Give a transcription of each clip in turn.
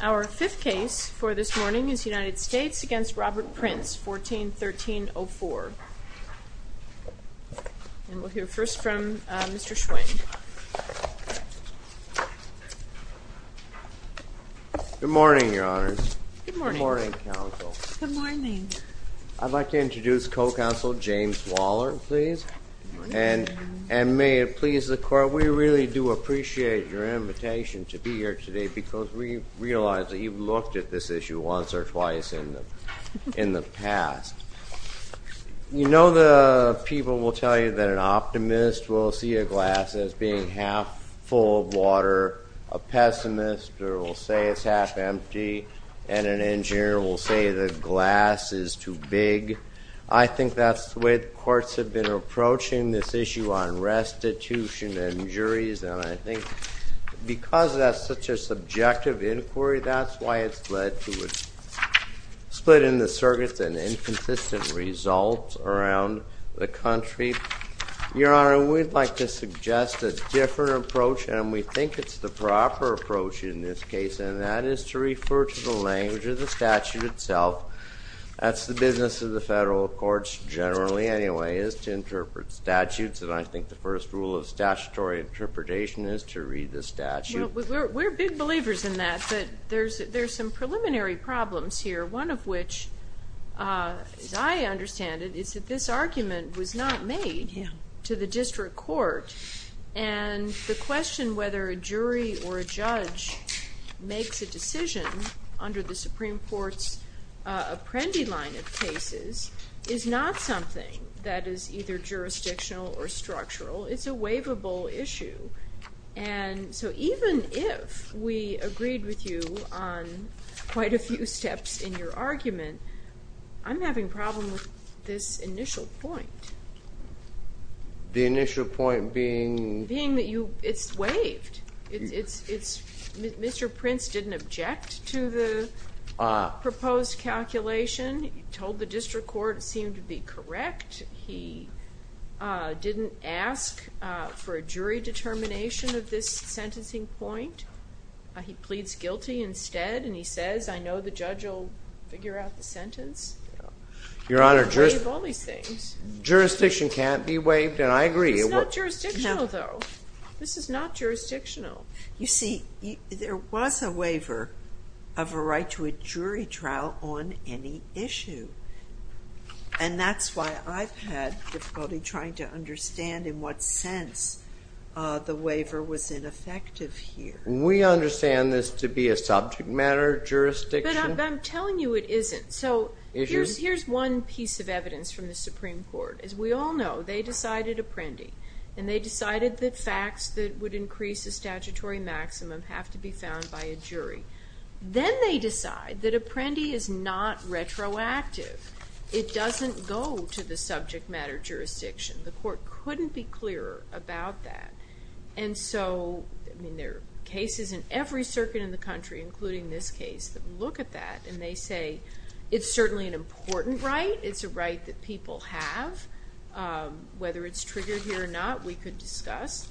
Our fifth case for this morning is United States v. Robert Printz, 14-1304. And we'll hear first from Mr. Schwing. Good morning, Your Honors. Good morning. Good morning, Counsel. Good morning. I'd like to introduce Co-Counsel James Waller, please. Good morning. And may it please the Court, we really do appreciate your invitation to be here today because we realize that you've looked at this issue once or twice in the past. You know the people will tell you that an optimist will see a glass as being half full of water, a pessimist will say it's half empty, and an engineer will say the glass is too big. I think that's the way the courts have been approaching this issue on restitution and juries, and I think because that's such a subjective inquiry, that's why it's led to a split in the circuits and inconsistent results around the country. Your Honor, we'd like to suggest a different approach, and we think it's the proper approach in this case, and that is to refer to the language of the statute itself. That's the business of the federal courts generally anyway, is to interpret statutes, and I think the first rule of statutory interpretation is to read the statute. Well, we're big believers in that, but there's some preliminary problems here, one of which, as I understand it, is that this argument was not made to the district court, and the question whether a jury or a judge makes a decision under the Supreme Court's Apprendi line of cases is not something that is either jurisdictional or structural. It's a waivable issue, and so even if we agreed with you on quite a few steps in your argument, I'm having problems with this initial point. The initial point being? Being that it's waived. Mr. Prince didn't object to the proposed calculation. He told the district court it seemed to be correct. He didn't ask for a jury determination of this sentencing point. He pleads guilty instead, and he says, I know the judge will figure out the sentence. Your Honor, jurisdiction can't be waived, and I agree. It's not jurisdictional, though. This is not jurisdictional. You see, there was a waiver of a right to a jury trial on any issue, and that's why I've had difficulty trying to understand in what sense the waiver was ineffective here. We understand this to be a subject matter jurisdiction. But I'm telling you it isn't. So here's one piece of evidence from the Supreme Court. As we all know, they decided Apprendi, and they decided that facts that would increase the statutory maximum have to be found by a jury. Then they decide that Apprendi is not retroactive. It doesn't go to the subject matter jurisdiction. The court couldn't be clearer about that. And so there are cases in every circuit in the country, including this case, that look at that, and they say it's certainly an important right. It's a right that people have. Whether it's triggered here or not, we could discuss.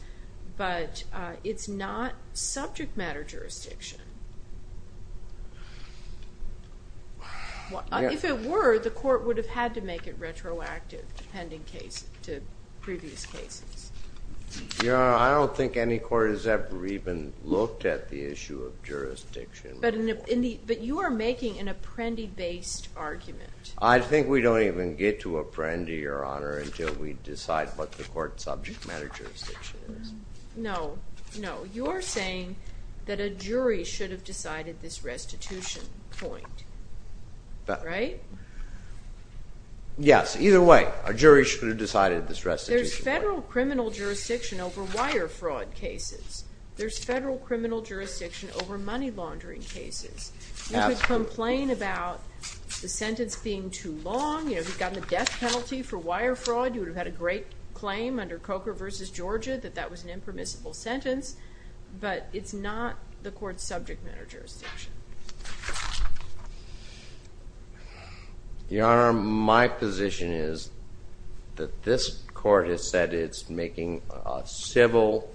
But it's not subject matter jurisdiction. If it were, the court would have had to make it retroactive to previous cases. Your Honor, I don't think any court has ever even looked at the issue of jurisdiction. But you are making an Apprendi-based argument. I think we don't even get to Apprendi, Your Honor, until we decide what the court's subject matter jurisdiction is. No, no. You're saying that a jury should have decided this restitution point, right? Yes. Either way, a jury should have decided this restitution point. There's federal criminal jurisdiction over wire fraud cases. There's federal criminal jurisdiction over money laundering cases. You could complain about the sentence being too long. You know, if you'd gotten a death penalty for wire fraud, you would have had a great claim under Coker v. Georgia that that was an impermissible sentence. But it's not the court's subject matter jurisdiction. Your Honor, my position is that this court has said it's making a civil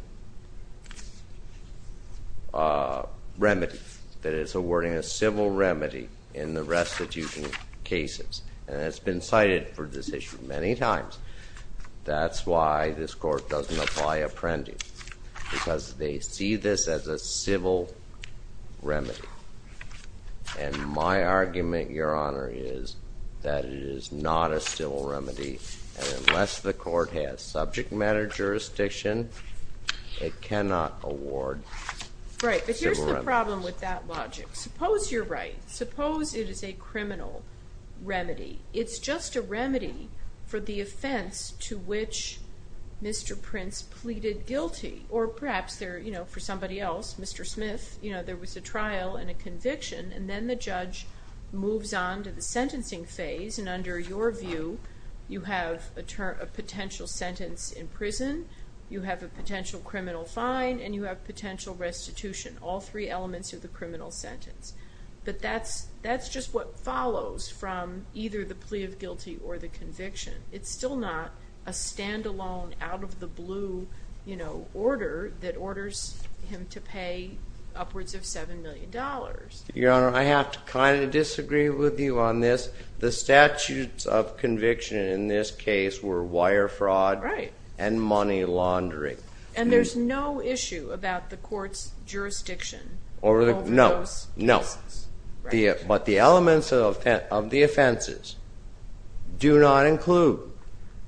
remedy. That it's awarding a civil remedy in the restitution cases. And it's been cited for this issue many times. That's why this court doesn't apply Apprendi. Because they see this as a civil remedy. And my argument, Your Honor, is that it is not a civil remedy. And unless the court has subject matter jurisdiction, it cannot award civil remedies. Right, but here's the problem with that logic. Suppose you're right. Suppose it is a criminal remedy. It's just a remedy for the offense to which Mr. Prince pleaded guilty. Or perhaps for somebody else, Mr. Smith, there was a trial and a conviction. And then the judge moves on to the sentencing phase. And under your view, you have a potential sentence in prison. You have a potential criminal fine. And you have potential restitution. All three elements of the criminal sentence. But that's just what follows from either the plea of guilty or the conviction. It's still not a stand-alone, out-of-the-blue order that orders him to pay upwards of $7 million. Your Honor, I have to kind of disagree with you on this. The statutes of conviction in this case were wire fraud and money laundering. And there's no issue about the court's jurisdiction over those cases. No, no. But the elements of the offenses do not include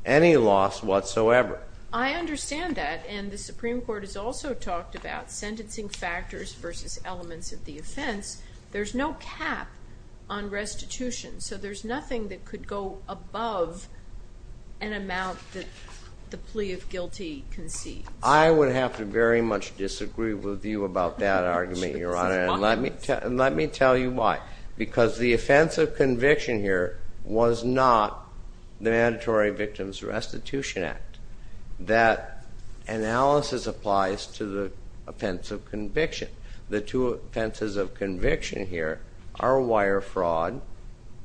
any loss whatsoever. I understand that. And the Supreme Court has also talked about sentencing factors versus elements of the offense. There's no cap on restitution. So there's nothing that could go above an amount that the plea of guilty concedes. I would have to very much disagree with you about that argument, Your Honor. And let me tell you why. Because the offense of conviction here was not the Mandatory Victims Restitution Act. That analysis applies to the offense of conviction. The two offenses of conviction here are wire fraud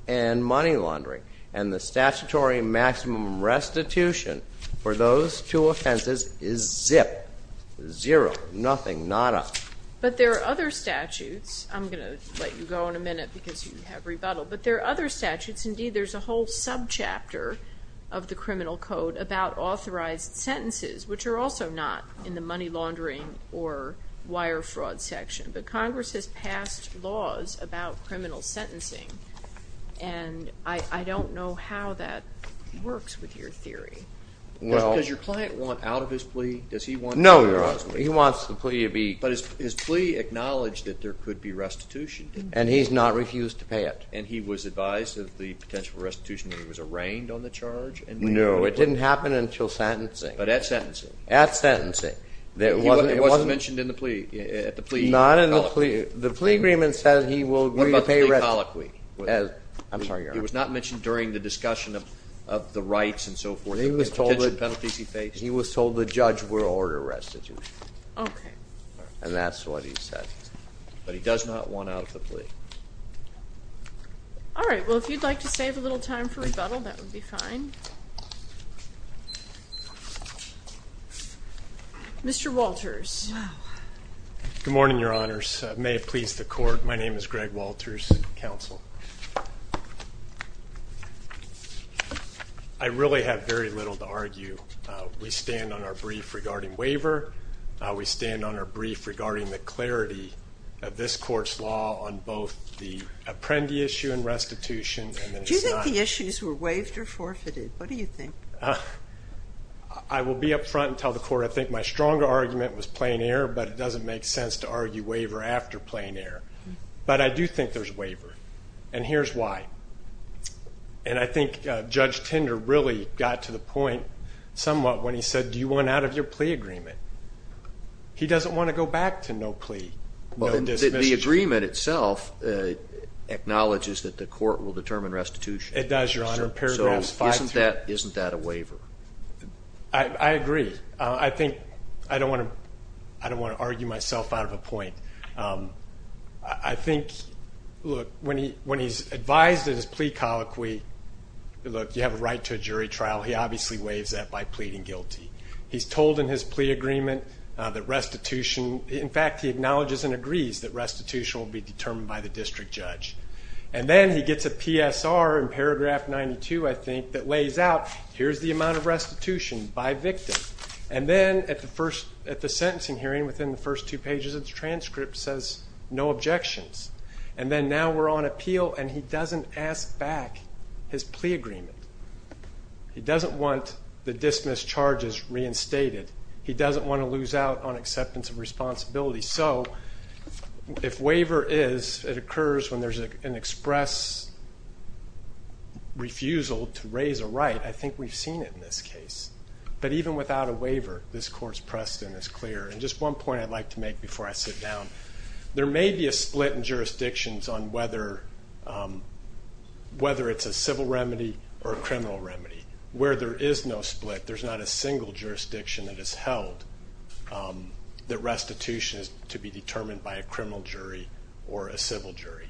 and money laundering. And the statutory maximum restitution for those two offenses is zip, zero, nothing, not up. But there are other statutes. I'm going to let you go in a minute because you have rebuttal. But there are other statutes. Indeed, there's a whole subchapter of the criminal code about authorized sentences, which are also not in the money laundering or wire fraud section. But Congress has passed laws about criminal sentencing, and I don't know how that works with your theory. Does your client want out of his plea? No, Your Honor. He wants the plea to be. But his plea acknowledged that there could be restitution. And he's not refused to pay it. And he was advised of the potential restitution when he was arraigned on the charge? No, it didn't happen until sentencing. But at sentencing? At sentencing. It wasn't mentioned in the plea? Not in the plea. The plea agreement says he will agree to pay restitution. What about the plea colloquy? I'm sorry, Your Honor. It was not mentioned during the discussion of the rights and so forth, the conviction penalties he faced? He was told the judge would order restitution. And that's what he said. But he does not want out of the plea? All right. Well, if you'd like to save a little time for rebuttal, that would be fine. Mr. Walters. Good morning, Your Honors. May it please the court, my name is Greg Walters, counsel. I really have very little to argue. We stand on our brief regarding waiver. We stand on our brief regarding the clarity of this court's law on both the apprendee issue and restitution. Do you think the issues were waived or forfeited? What do you think? I will be up front and tell the court I think my stronger argument was plain air, but it doesn't make sense to argue waiver after plain air. But I do think there's waiver. And here's why. And I think Judge Tinder really got to the point somewhat when he said, do you want out of your plea agreement? He doesn't want to go back to no plea, no dismissal. The agreement itself acknowledges that the court will determine restitution. It does, Your Honor. So isn't that a waiver? I agree. I think I don't want to argue myself out of a point. I think, look, when he's advised in his plea colloquy, look, you have a right to a jury trial, he obviously waives that by pleading guilty. He's told in his plea agreement that restitution, in fact, he acknowledges and agrees that restitution will be determined by the district judge. And then he gets a PSR in paragraph 92, I think, that lays out, here's the amount of restitution by victim. And then at the sentencing hearing, within the first two pages of the transcript, says no objections. And then now we're on appeal, and he doesn't ask back his plea agreement. He doesn't want the dismissed charges reinstated. He doesn't want to lose out on acceptance of responsibility. So if waiver is, it occurs when there's an express refusal to raise a right. I think we've seen it in this case. But even without a waiver, this court's precedent is clear. And just one point I'd like to make before I sit down. There may be a split in jurisdictions on whether it's a civil remedy or a criminal remedy. Where there is no split, there's not a single jurisdiction that has held that restitution is to be determined by a criminal jury or a civil jury.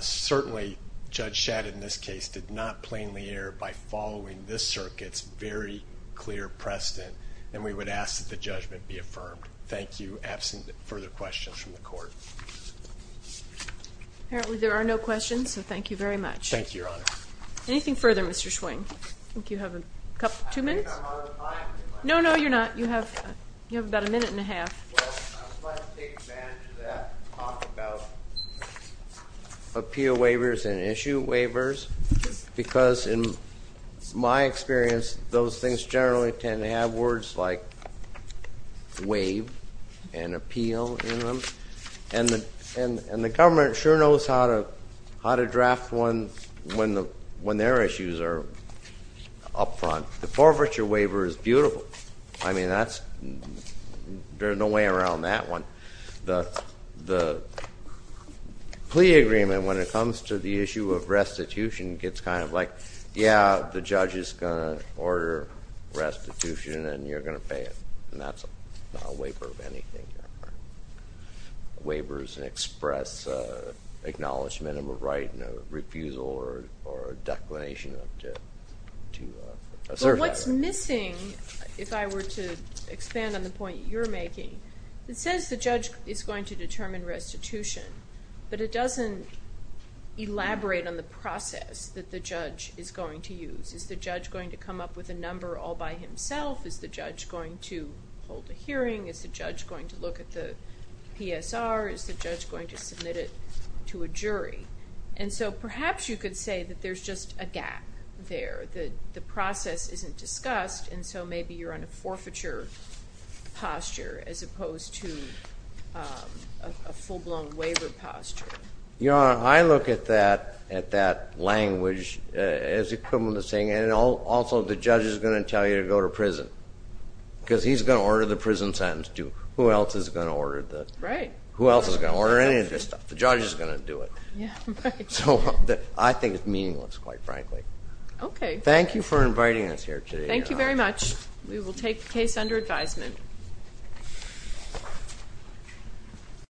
Certainly, Judge Shadid in this case did not plainly err by following this circuit's very clear precedent. And we would ask that the judgment be affirmed. Thank you. Absent further questions from the court. Apparently there are no questions, so thank you very much. Thank you, Your Honor. Anything further, Mr. Schwing? I think you have two minutes. I think I'm out of time. No, no, you're not. You have about a minute and a half. Well, I'd like to take advantage of that and talk about appeal waivers and issue waivers. Because in my experience, those things generally tend to have words like waive and appeal in them. And the government sure knows how to draft one when their issues are up front. The forfeiture waiver is beautiful. I mean, there's no way around that one. The plea agreement, when it comes to the issue of restitution, gets kind of like, yeah, the judge is going to order restitution and you're going to pay it. And that's not a waiver of anything, Your Honor. A waiver is an express acknowledgment of a right and a refusal or a declination to serve that right. But what's missing, if I were to expand on the point you're making, it says the judge is going to determine restitution, but it doesn't elaborate on the process that the judge is going to use. Is the judge going to come up with a number all by himself? Is the judge going to hold a hearing? Is the judge going to look at the PSR? Is the judge going to submit it to a jury? And so perhaps you could say that there's just a gap there, that the process isn't discussed, and so maybe you're on a forfeiture posture as opposed to a full-blown waiver posture. Your Honor, I look at that language as equivalent to saying, and also the judge is going to tell you to go to prison because he's going to order the prison sentence, too. Who else is going to order any of this stuff? The judge is going to do it. So I think it's meaningless, quite frankly. Thank you for inviting us here today, Your Honor. Thank you very much. We will take the case under advisement.